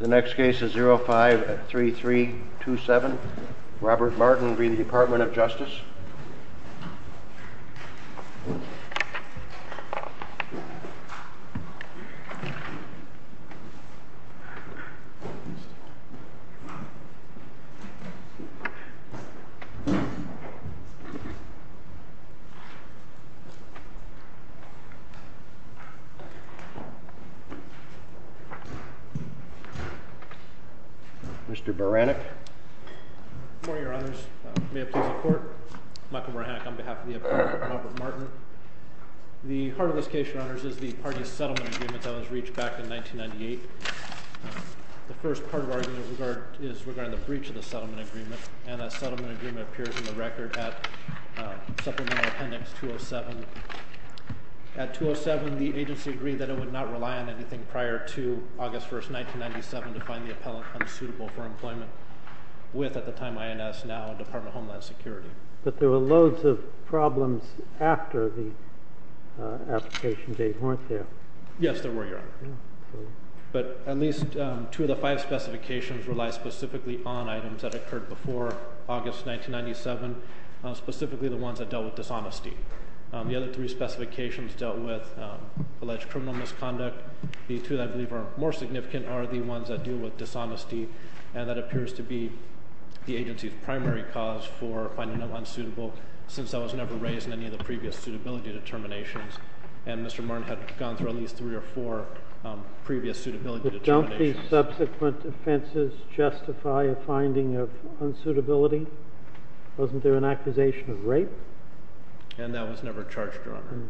The next case is 05-3327. Robert Martin v. Department of Justice. Mr. Boranek. Good morning, Your Honors. May it please the Court. Michael Boranek on behalf of the Department of Justice. Robert Martin. The heart of this case, Your Honors, is the party settlement agreement that was reached back in 1998. The first part of our argument is regarding the breach of the settlement agreement, and that settlement agreement appears in the record at supplemental appendix 207. At 207, the agency agreed that it would not rely on anything prior to August 1, 1997 to find the appellant unsuitable for employment with, at the time, INS, now Department of Homeland Security. But there were loads of problems after the application date, weren't there? Yes, there were, Your Honor. But at least two of the five specifications rely specifically on items that occurred before August 1997, specifically the ones that dealt with dishonesty. The other three specifications dealt with alleged criminal misconduct. The two that I believe are more significant are the ones that deal with dishonesty, and that appears to be the agency's primary cause for finding them unsuitable, since that was never raised in any of the previous suitability determinations. And Mr. Martin had gone through at least three or four previous suitability determinations. But don't these subsequent offenses justify a finding of unsuitability? Wasn't there an accusation of rape? And that was never charged, Your Honor.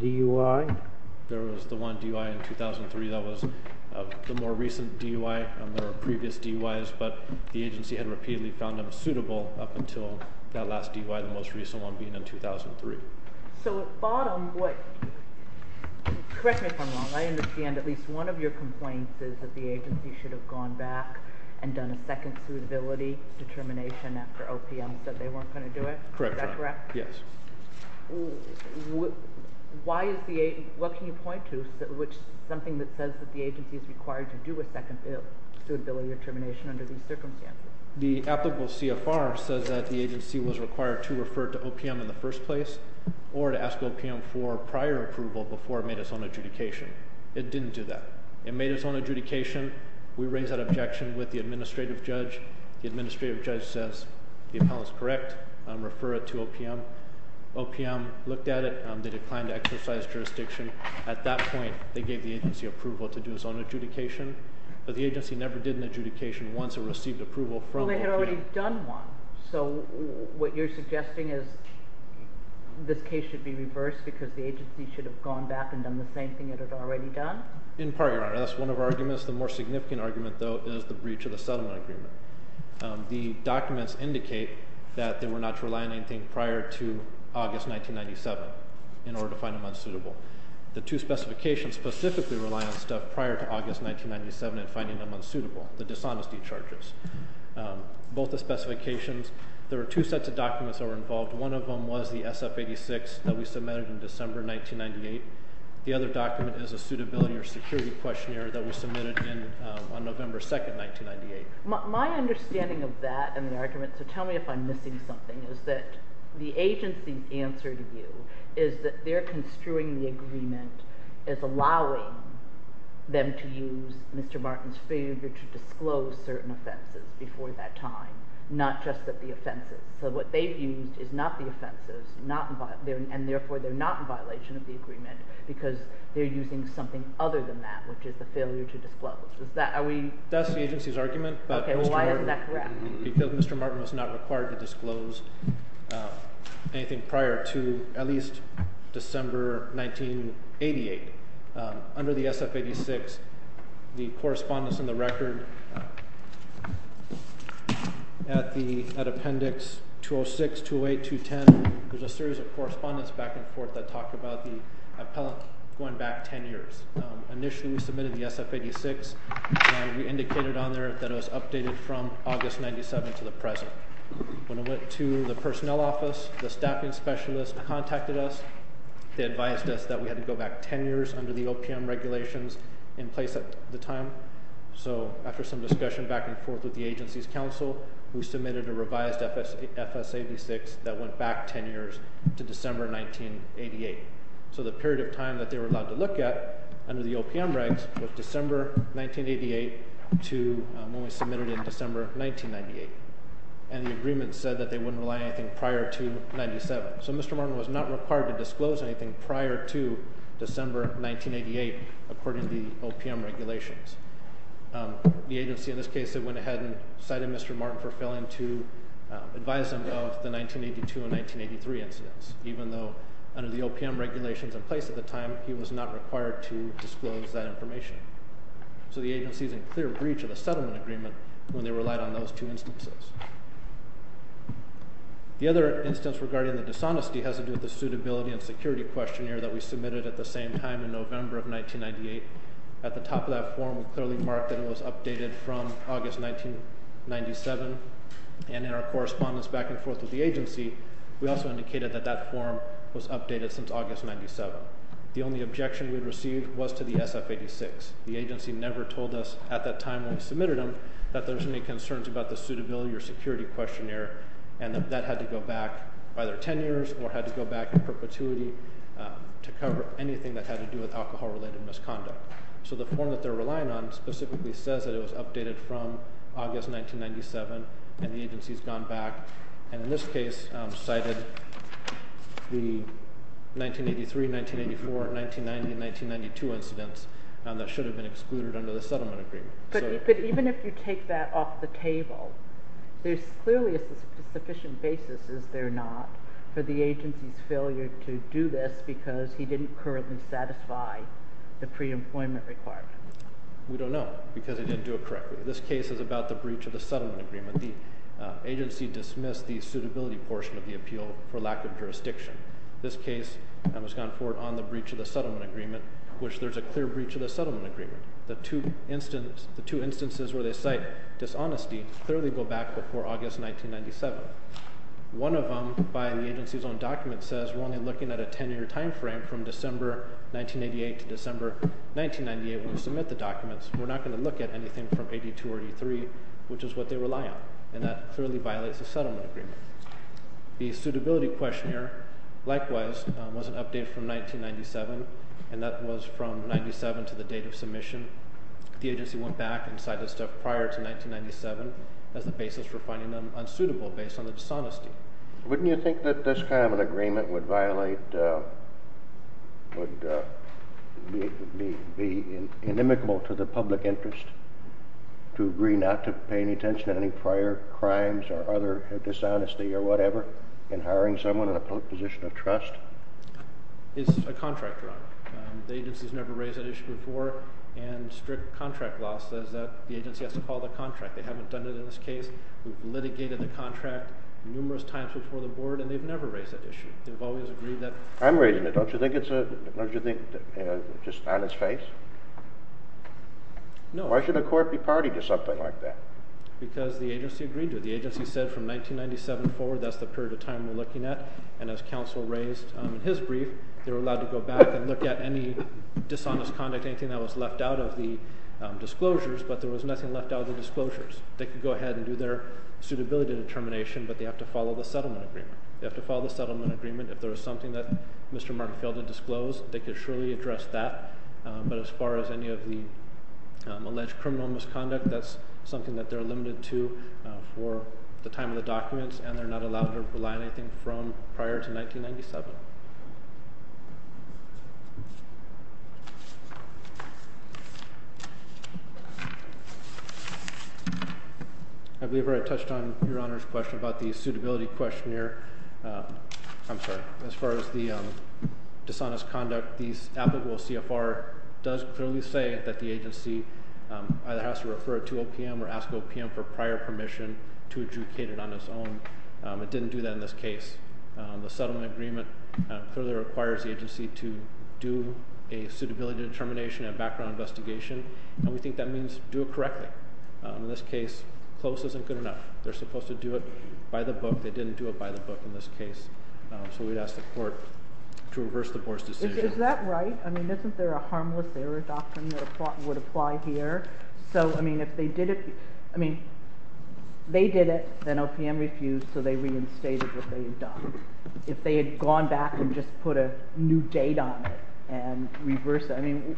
DUI? There was the one DUI in 2003 that was the more recent DUI, and there were previous DUIs, but the agency had repeatedly found them suitable up until that last DUI, the most recent one being in 2003. So at bottom, what, correct me if I'm wrong, I understand at least one of your complaints is that the agency should have gone back and done a second suitability determination after OPM said they weren't going to do it? Correct, Your Honor. Is that correct? Yes. Why is the agency, what can you point to, something that says that the agency is required to do a second suitability determination under these circumstances? The applicable CFR says that the agency was required to refer to OPM in the first place or to ask OPM for prior approval before it made its own adjudication. It didn't do that. It made its own adjudication. We raised that objection with the administrative judge. The administrative judge says the appellant's correct. Refer it to OPM. OPM looked at it. They declined to exercise jurisdiction. At that point, they gave the agency approval to do its own adjudication. But the agency never did an adjudication once it received approval from OPM. But they had already done one. So what you're suggesting is this case should be reversed because the agency should have gone back and done the same thing it had already done? In part, Your Honor. That's one of our arguments. The more significant argument, though, is the breach of the settlement agreement. The documents indicate that they were not to rely on anything prior to August 1997 in order to find them unsuitable. The two specifications specifically rely on stuff prior to August 1997 and finding them unsuitable. The dishonesty charges. Both the specifications. There were two sets of documents that were involved. One of them was the SF-86 that we submitted in December 1998. The other document is a suitability or security questionnaire that we submitted on November 2, 1998. My understanding of that and the argument, so tell me if I'm missing something, is that the agency's answer to this issue is that they're construing the agreement as allowing them to use Mr. Martin's failure to disclose certain offenses before that time, not just that the offenses. So what they've used is not the offenses, and therefore they're not in violation of the agreement because they're using something other than that, which is the failure to disclose. Is that, are we? That's the agency's argument. Okay, well why isn't that correct? Because Mr. Martin was not required to disclose anything prior to at least December 1988. Under the SF-86, the correspondence in the record at the appendix 206, 208, 210, there's a series of correspondence back and forth that talked about the appellant going back 10 years. Initially we submitted the SF-86, and we indicated on there that it was updated from August 1997 to the present. When it went to the personnel office, the staffing specialist contacted us. They advised us that we had to go back 10 years under the OPM regulations in place at the time. So after some discussion back and forth with the agency's counsel, we submitted a revised FS-86 that went back 10 years to December 1988. So the period of time that they were allowed to look at under the OPM regs was December 1988 to when we submitted in December 1998. And the agreement said that they wouldn't rely on anything prior to 97. So Mr. Martin was not required to disclose anything prior to December 1988, according to the OPM regulations. The agency in this case, they went ahead and cited Mr. Martin for failing to advise them of the 1982 and 1983 incidents, even though under the OPM regulations in place at the time, he was not required to disclose that information. So the agency is in clear breach of the settlement agreement when they relied on those two instances. The other instance regarding the dishonesty has to do with the suitability and security questionnaire that we submitted at the same time in November of 1998. At the top of that form, we clearly marked that it was updated from August 1997. And in our correspondence back and forth with the agency, we also indicated that that form was updated since August 1997. The only objection we had received was to the SF-86. The agency never told us at that time when we submitted them that there was any concerns about the suitability or security questionnaire and that that had to go back either 10 years or had to go back in perpetuity to cover anything that had to do with alcohol-related misconduct. So the form that they're relying on specifically says that it was updated from August 1997 and the agency has gone back and in this case cited the 1983, 1984, 1990, 1992 incidents that should have been excluded under the settlement agreement. But even if you take that off the table, there's clearly a sufficient basis, is there not, for the agency's failure to do this because he didn't currently satisfy the pre-employment requirement? We don't know because he didn't do it correctly. This case is about the breach of the settlement agreement. The agency dismissed the suitability portion of the appeal for lack of jurisdiction. This case has gone forward on the breach of the settlement agreement, which there's a clear breach of the settlement agreement. The two instances where they cite dishonesty clearly go back before August 1997. One of them by the agency's own document says we're only looking at a 10-year time frame from December 1988 to December 1998 when we submit the documents. We're not going to look at anything from 82 or 83, which is what they rely on, and that clearly violates the settlement agreement. The suitability questionnaire, likewise, was an update from 1997, and that was from 97 to the date of submission. The agency went back and cited stuff prior to 1997 as the basis for finding them unsuitable based on the dishonesty. Wouldn't you think that this kind of an agreement would be inimical to the public interest to agree not to pay any attention to any prior crimes or dishonesty or whatever in hiring someone in a position of trust? It's a contract drug. The agency's never raised that issue before, and strict contract law says that the agency has to call the contract. They haven't done it in this case. We've litigated the contract numerous times before the board, and they've never raised that issue. They've always agreed that— I'm raising it. Don't you think it's just on its face? No. Why should the court be party to something like that? Because the agency agreed to it. The agency said from 1997 forward, that's the period of time we're looking at, and as counsel raised in his brief, they were allowed to go back and look at any dishonest conduct, anything that was left out of the disclosures, but there was nothing left out of the disclosures. They could go ahead and do their suitability determination, but they have to follow the settlement agreement. They have to follow the settlement agreement. If there was something that Mr. Mark failed to disclose, they could surely address that, but as far as any of the alleged criminal misconduct, that's something that they're limited to for the time of the documents, and they're not allowed to rely on anything from prior to 1997. I believe I touched on Your Honor's question about the suitability questionnaire. I'm sorry. As far as the dishonest conduct, the applicable CFR does clearly say that the agency either has to refer it to OPM or ask OPM for prior permission to adjudicate it on its own. It didn't do that in this case. The settlement agreement further requires the agency to do a suitability determination and background investigation, and we think that means do it correctly. In this case, close isn't good enough. They're supposed to do it by the book. They didn't do it by the book in this case, so we'd ask the court to reverse the board's decision. Is that right? I mean, isn't there a harmless error doctrine that would apply here? So, they reinstated what they had done. If they had gone back and just put a new date on it and reversed it, I mean,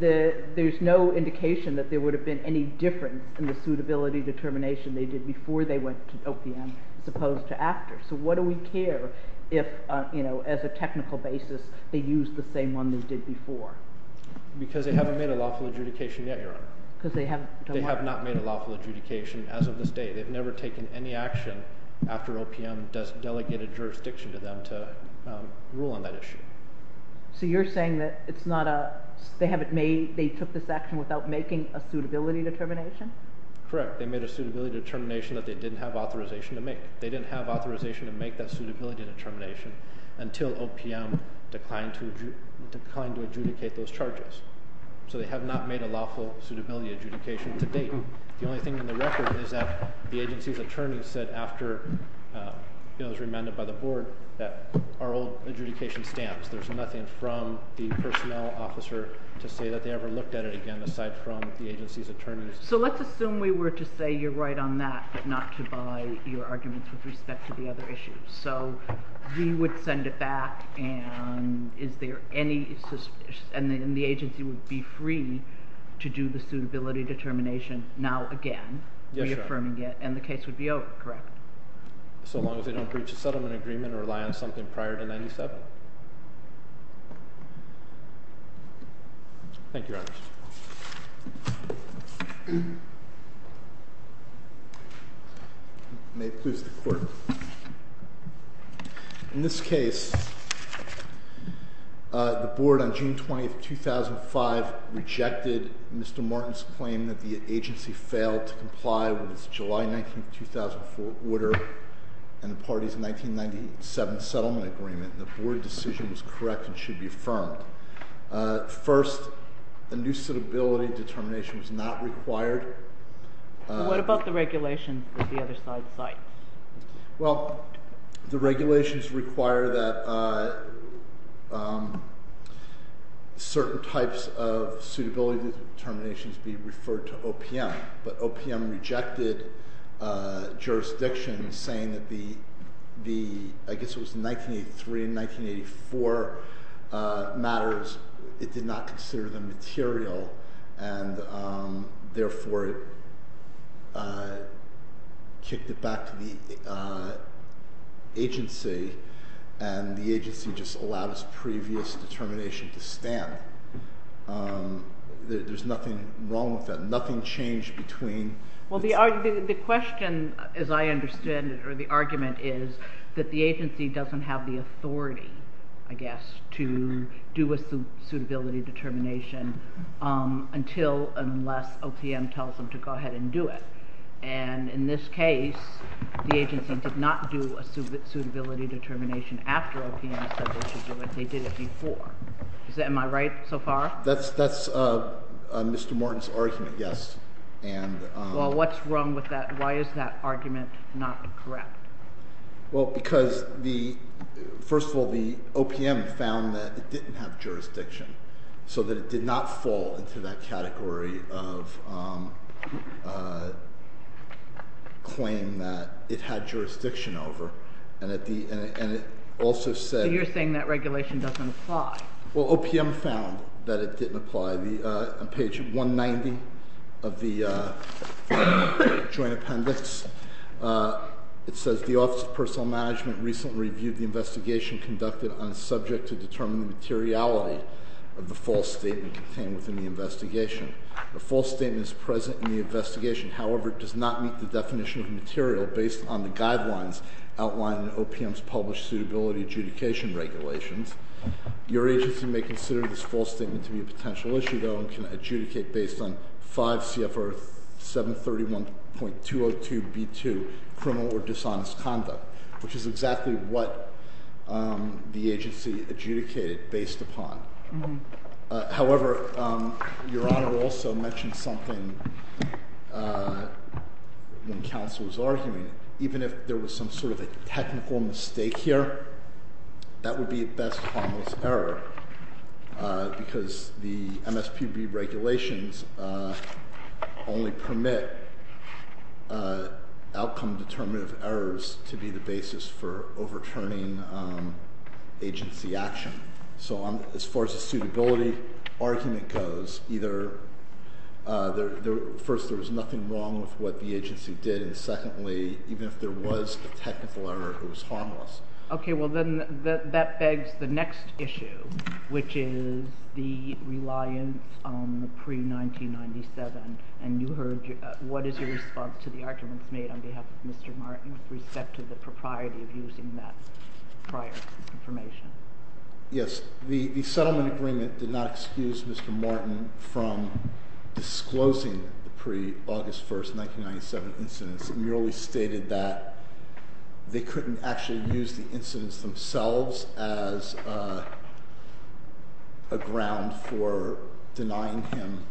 there's no indication that there would have been any difference in the suitability determination they did before they went to OPM as opposed to after. So, what do we care if, you know, as a technical basis, they used the same one they did before? Because they haven't made a lawful adjudication yet, Your Honor. Because they haven't done what? They have not made a lawful adjudication as of this date. They've never taken any action after OPM delegated jurisdiction to them to rule on that issue. So, you're saying that it's not a, they haven't made, they took this action without making a suitability determination? Correct. They made a suitability determination that they didn't have authorization to make. They didn't have authorization to make that suitability determination until OPM declined to adjudicate those charges. So, they have not made a lawful suitability adjudication to date. The only thing in the record is that the agency's attorney said after, you know, it was remanded by the board that our old adjudication stamps. There's nothing from the personnel officer to say that they ever looked at it again aside from the agency's attorney. So, let's assume we were to say you're right on that but not to buy your arguments with respect to the other issues. So, we would send it back and is there any, and the agency would be free to do the suitability determination now again. Yes, Your Honor. Reaffirming it and the case would be over, correct? So long as they don't breach a settlement agreement or rely on something prior to 97. Thank you, Your Honor. May it please the court. In this case, the board on June 20, 2005 rejected Mr. Martin's claim that the agency failed to comply with July 19, 2004 order and the party's 1997 settlement agreement. The board decision was correct and should be affirmed. First, a new suitability determination was not required. What about the regulations at the other side of the site? Well, the regulations require that certain types of suitability determinations be referred to OPM but OPM rejected jurisdiction saying that the, I guess it was 1983 and 1984 matters. It did not consider them material and therefore kicked it back to the agency and the agency just allowed its previous determination to stand. There's nothing wrong with that. Nothing changed between… Well, the question as I understand it or the argument is that the agency doesn't have the authority, I guess, to do a suitability determination until unless OPM tells them to go ahead and do it. And in this case, the agency did not do a suitability determination after OPM said they should do it. They did it before. Am I right so far? That's Mr. Martin's argument, yes. Well, what's wrong with that? Why is that argument not correct? Well, because the, first of all, the OPM found that it didn't have jurisdiction so that it did not fall into that category of claim that it had jurisdiction over and it also said… So you're saying that regulation doesn't apply. Well, OPM found that it didn't apply. On page 190 of the joint appendix, it says the Office of Personal Management recently reviewed the investigation conducted on a subject to determine the materiality of the false statement contained within the investigation. The false statement is present in the investigation. However, it does not meet the definition of material based on the guidelines outlined in OPM's published suitability adjudication regulations. Your agency may consider this false statement to be a potential issue, though, and can adjudicate based on 5 CFR 731.202B2, criminal or dishonest conduct, which is exactly what the agency adjudicated based upon. However, Your Honor also mentioned something when counsel was arguing. Even if there was some sort of a technical mistake here, that would be a best harmless error because the MSPB regulations only permit outcome determinative errors to be the basis for overturning agency action. So as far as the suitability argument goes, first, there was nothing wrong with what the agency did, and secondly, even if there was a technical error, it was harmless. Okay, well, then that begs the next issue, which is the reliance on the pre-1997, and you heard what is your response to the arguments made on behalf of Mr. Martin with respect to the propriety of using that prior information? Yes, the settlement agreement did not excuse Mr. Martin from disclosing the pre-August 1st 1997 incidents. It merely stated that they couldn't actually use the incidents themselves as a ground for denying him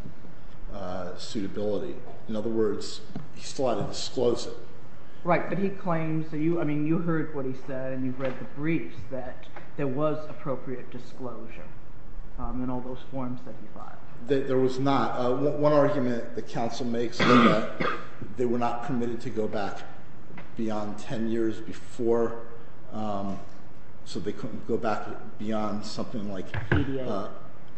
suitability. In other words, he still had to disclose it. Right, but he claims that you, I mean, you heard what he said, and you've read the briefs that there was appropriate disclosure in all those forms that he filed. There was not. One argument that counsel makes is that they were not permitted to go back beyond 10 years before, so they couldn't go back beyond something like,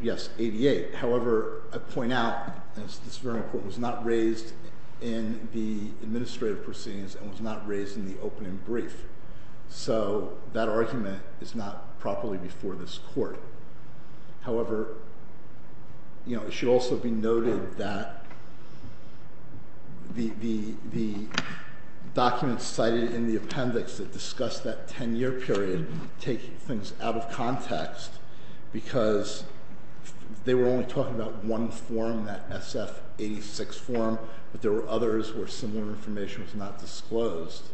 yes, 88. However, I point out, and this is very important, it was not raised in the administrative proceedings and was not raised in the opening brief, so that argument is not properly before this court. However, it should also be noted that the documents cited in the appendix that discuss that 10-year period take things out of context because they were only talking about one form, that SF-86 form, but there were others where similar information was not disclosed.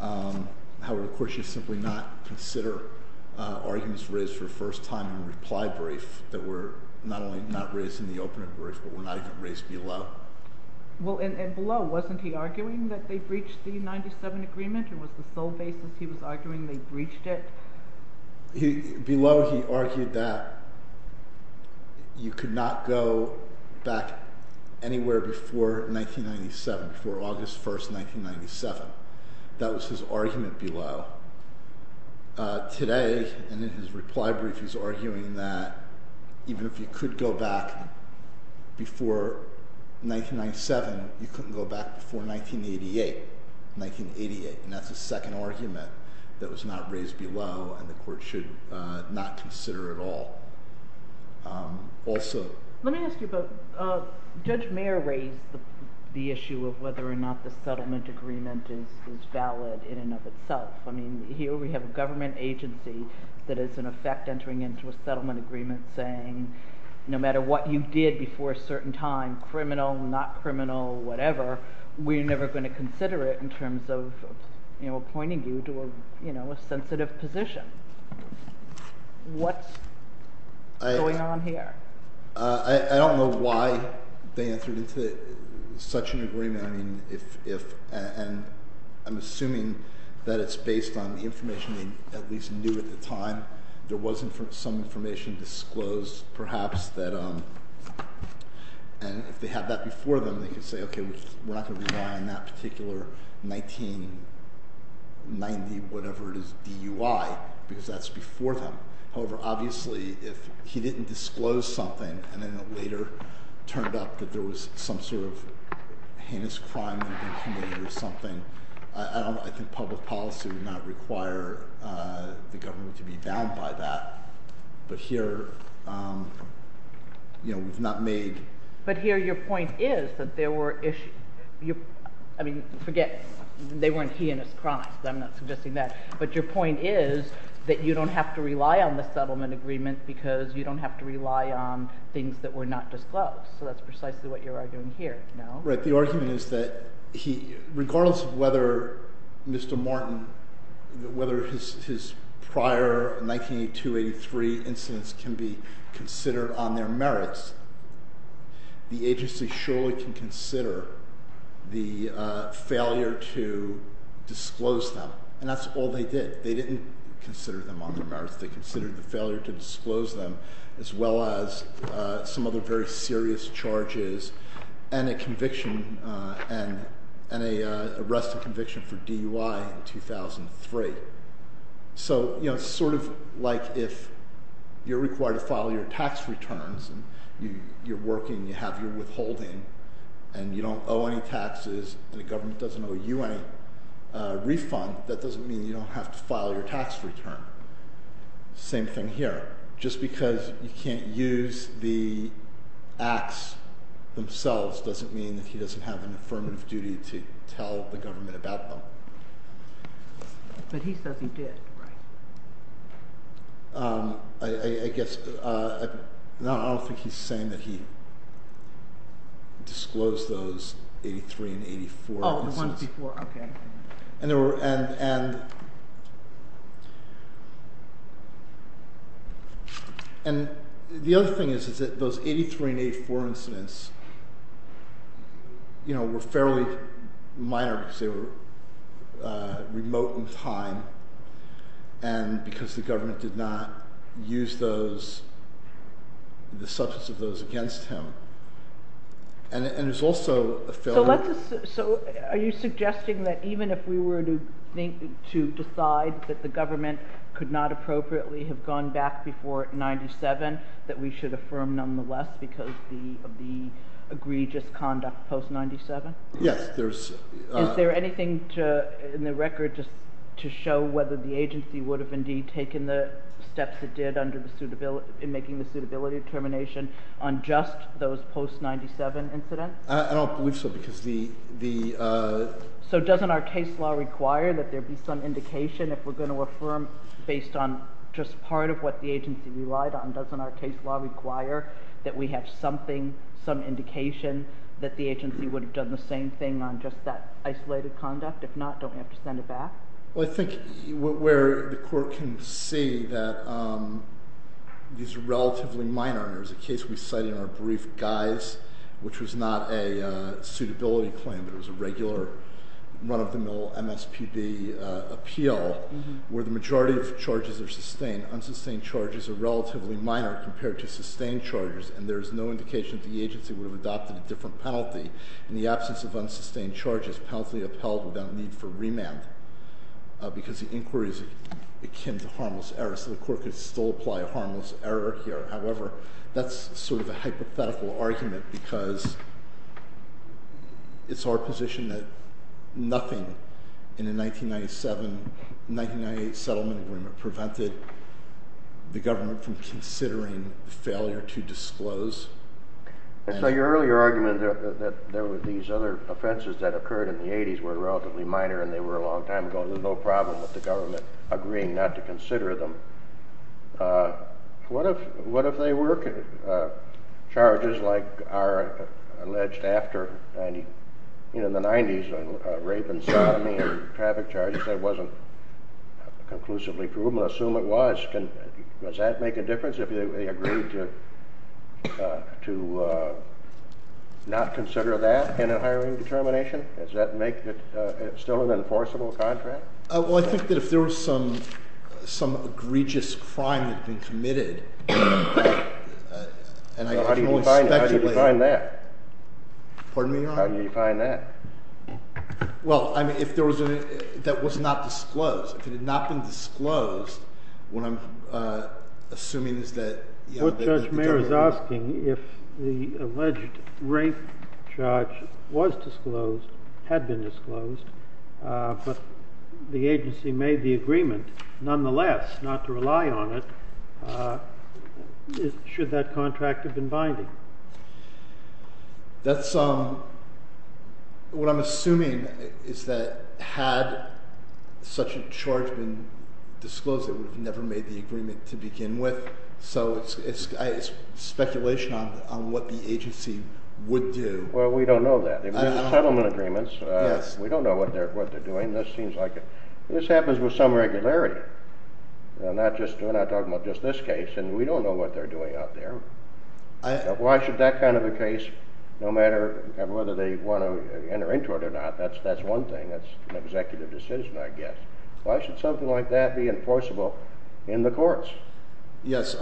However, the court should simply not consider arguments raised for the first time in a reply brief that were not only not raised in the opening brief, but were not even raised below. Well, and below, wasn't he arguing that they breached the 1997 agreement, or was the sole basis he was arguing they breached it? Below, he argued that you could not go back anywhere before 1997, before August 1st, 1997. That was his argument below. Today, in his reply brief, he's arguing that even if you could go back before 1997, you couldn't go back before 1988, and that's a second argument that was not raised below and the court should not consider at all. Let me ask you both. Judge Mayer raised the issue of whether or not the settlement agreement is valid in and of itself. I mean, here we have a government agency that is in effect entering into a settlement agreement saying no matter what you did before a certain time, criminal, not criminal, whatever, we're never going to consider it in terms of appointing you to a sensitive position. What's going on here? I don't know why they entered into such an agreement, and I'm assuming that it's based on information they at least knew at the time. There was some information disclosed, perhaps, and if they had that before them, they could say, okay, we're not going to rely on that particular 1990, whatever it is, DUI, because that's before them. However, obviously, if he didn't disclose something and then it later turned up that there was some sort of heinous crime or something, I think public policy would not require the government to be bound by that. But here, you know, we've not made... But here your point is that there were issues. I mean, forget they weren't heinous crimes. I'm not suggesting that. But your point is that you don't have to rely on the settlement agreement because you don't have to rely on things that were not disclosed. So that's precisely what you're arguing here, no? Right. The argument is that regardless of whether Mr. Martin, whether his prior 1982-83 incidents can be considered on their merits, the agency surely can consider the failure to disclose them, and that's all they did. They didn't consider them on their merits. They considered the failure to disclose them as well as some other very serious charges and a conviction and an arrest and conviction for DUI in 2003. So, you know, sort of like if you're required to file your tax returns and you're working, you have your withholding, and you don't owe any taxes and the government doesn't owe you any refund, that doesn't mean you don't have to file your tax return. Same thing here. Just because you can't use the acts themselves doesn't mean that he doesn't have an affirmative duty to tell the government about them. But he says he did, right? I guess, no, I don't think he's saying that he disclosed those 83 and 84 incidents. Oh, the ones before, okay. And the other thing is that those 83 and 84 incidents, you know, were fairly minor because they were remote in time and because the government did not use the substance of those against him. And there's also a failure... So are you suggesting that even if we were to decide that the government could not appropriately have gone back before 97, that we should affirm nonetheless because of the egregious conduct post-97? Yes, there's... Is there anything in the record to show whether the agency would have indeed taken the steps it did in making the suitability determination on just those post-97 incidents? I don't believe so because the... So doesn't our case law require that there be some indication if we're going to affirm based on just part of what the agency relied on? Doesn't our case law require that we have something, some indication that the agency would have done the same thing on just that isolated conduct? If not, don't we have to send it back? Well, I think where the court can see that these are relatively minor, and there's a case we cite in our brief guise, which was not a suitability claim, but it was a regular run-of-the-mill MSPB appeal, where the majority of charges are sustained, unsustained charges are relatively minor compared to sustained charges, and there's no indication that the agency would have adopted a different penalty in the absence of unsustained charges, penalty upheld without need for remand, because the inquiry is akin to harmless error. So the court could still apply a harmless error here. However, that's sort of a hypothetical argument because it's our position that nothing in the 1997-1998 settlement agreement prevented the government from considering the failure to disclose. So your earlier argument that there were these other offenses that occurred in the 80s were relatively minor and they were a long time ago, there's no problem with the government agreeing not to consider them. What if they were charges like are alleged after the 90s, rape and sodomy and traffic charges that wasn't conclusively proven? Assume it was. Does that make a difference if they agreed to not consider that in a hiring determination? Does that make it still an enforceable contract? Well, I think that if there was some egregious crime that had been committed, and I can only speculate— How do you define that? Pardon me, Your Honor? How do you define that? Well, I mean, if that was not disclosed, if it had not been disclosed, what I'm assuming is that— What Judge Mayer is asking, if the alleged rape charge was disclosed, had been disclosed, but the agency made the agreement nonetheless not to rely on it, should that contract have been binding? That's—what I'm assuming is that had such a charge been disclosed, it would have never made the agreement to begin with, so it's speculation on what the agency would do. Well, we don't know that. There's settlement agreements. Yes. We don't know what they're doing. This seems like—this happens with some regularity. We're not talking about just this case, and we don't know what they're doing out there. Why should that kind of a case, no matter whether they want to enter into it or not, that's one thing. That's an executive decision, I guess. Why should something like that be enforceable in the courts? Yes,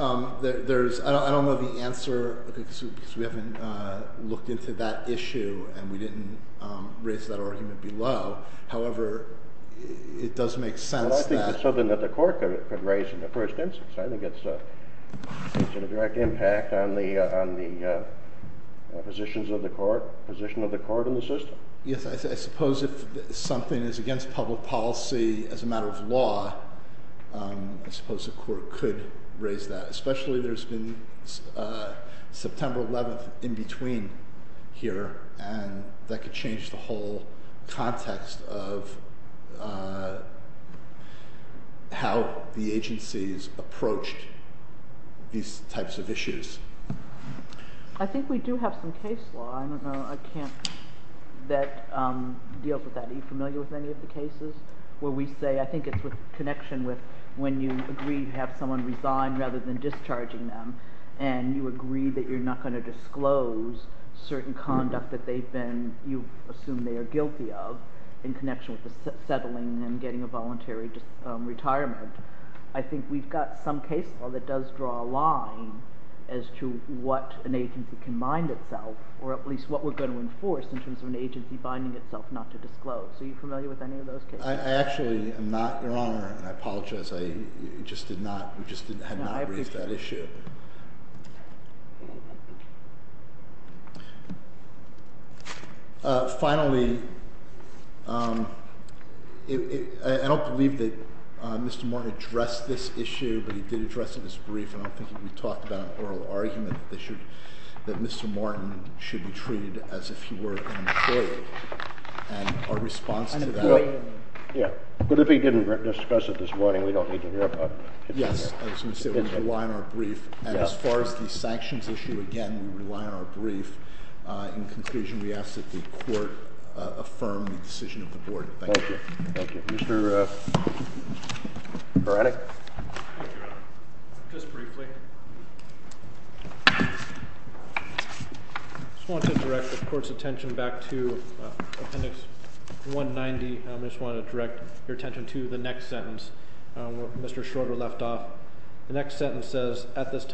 there's—I don't know the answer because we haven't looked into that issue, and we didn't raise that argument below. However, it does make sense that— Well, I think it's something that the court could raise in the first instance. I think it's a direct impact on the positions of the court, position of the court in the system. Yes. I suppose if something is against public policy as a matter of law, I suppose the court could raise that, especially there's been September 11th in between here, and that could change the whole context of how the agencies approached these types of issues. I think we do have some case law. I don't know. I can't—that deals with that. Are you familiar with any of the cases where we say— I think it's with connection with when you agree to have someone resign rather than discharging them, and you agree that you're not going to disclose certain conduct that they've been—you assume they are guilty of in connection with the settling and getting a voluntary retirement. I think we've got some case law that does draw a line as to what an agency can bind itself, or at least what we're going to enforce in terms of an agency binding itself not to disclose. Are you familiar with any of those cases? Because I just did not—we just had not raised that issue. Finally, I don't believe that Mr. Martin addressed this issue, but he did address it in his brief, and I'm thinking we talked about an oral argument that Mr. Martin should be treated as if he were an employee, and our response to that— Yeah, but if he didn't discuss it this morning, we don't need to hear about it. Yes. I was going to say we rely on our brief, and as far as the sanctions issue, again, we rely on our brief. In conclusion, we ask that the Court affirm the decision of the Board. Thank you. Thank you. Mr. Beranek? Thank you, Your Honor. Just briefly. I just want to direct the Court's attention back to Appendix 190. I just want to direct your attention to the next sentence where Mr. Schroeder left off. The next sentence says,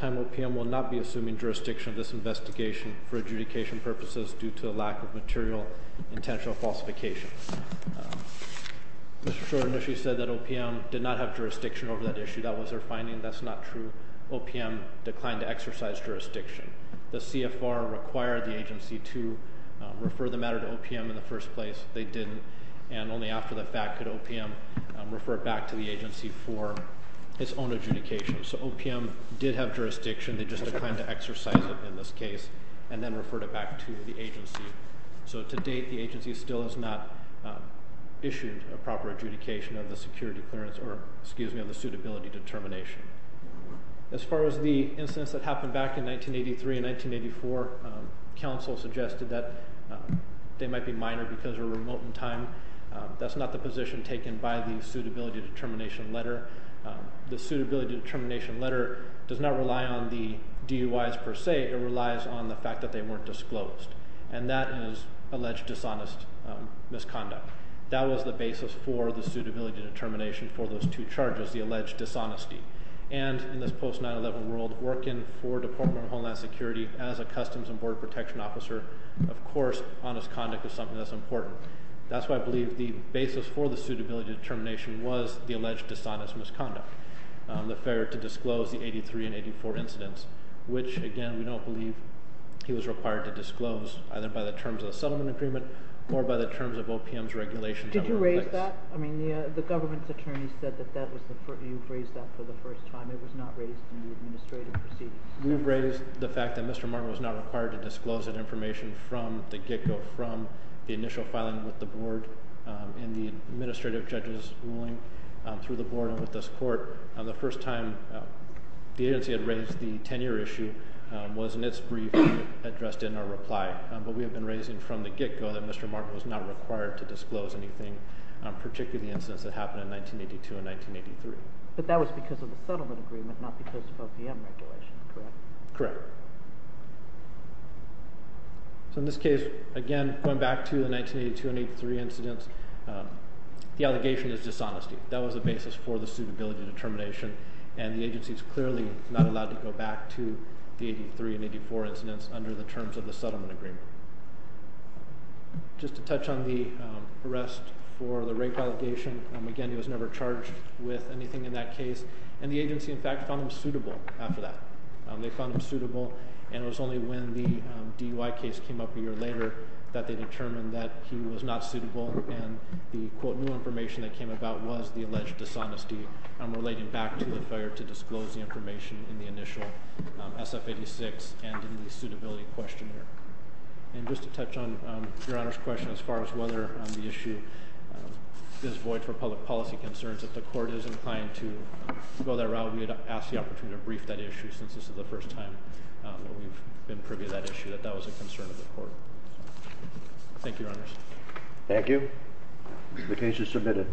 Mr. Schroeder initially said that OPM did not have jurisdiction over that issue. That was their finding. That's not true. OPM declined to exercise jurisdiction. The CFR required the agency to refer the matter to OPM in the first place. They didn't, and only after the fact could OPM refer it back to the agency for its own adjudication. So OPM did have jurisdiction. They just declined to exercise it in this case and then referred it back to the agency. So to date, the agency still has not issued a proper adjudication of the security clearance— or, excuse me, of the suitability determination. As far as the incidents that happened back in 1983 and 1984, counsel suggested that they might be minor because they were remote in time. That's not the position taken by the suitability determination letter. The suitability determination letter does not rely on the DUIs per se. It relies on the fact that they weren't disclosed, and that is alleged dishonest misconduct. That was the basis for the suitability determination for those two charges, the alleged dishonesty. And in this post-9-11 world, working for Department of Homeland Security as a customs and border protection officer, of course, honest conduct is something that's important. That's why I believe the basis for the suitability determination was the alleged dishonest misconduct, the failure to disclose the 1983 and 1984 incidents, which, again, we don't believe he was required to disclose, either by the terms of the settlement agreement or by the terms of OPM's regulation. Did you raise that? I mean, the government's attorney said that you've raised that for the first time. It was not raised in the administrative proceedings. We've raised the fact that Mr. Martin was not required to disclose that information from the get-go, from the initial filing with the board in the administrative judge's ruling through the board and with this court. The first time the agency had raised the tenure issue was in its brief addressed in our reply. But we have been raising from the get-go that Mr. Martin was not required to disclose anything, particularly incidents that happened in 1982 and 1983. But that was because of the settlement agreement, not because of OPM regulation, correct? Correct. So in this case, again, going back to the 1982 and 1983 incidents, the allegation is dishonesty. That was the basis for the suitability determination, and the agency is clearly not allowed to go back to the 1983 and 1984 incidents under the terms of the settlement agreement. Just to touch on the arrest for the rape allegation, again, he was never charged with anything in that case, and the agency, in fact, found him suitable after that. They found him suitable, and it was only when the DUI case came up a year later that they determined that he was not suitable, and the, quote, new information that came about was the alleged dishonesty. I'm relating back to the failure to disclose the information in the initial SF-86 and in the suitability questionnaire. And just to touch on Your Honor's question as far as whether the issue is void for public policy concerns, if the court is inclined to go that route, we would ask the opportunity to brief that issue, since this is the first time that we've been privy to that issue, that that was a concern of the court. Thank you, Your Honors. Thank you. The case is submitted.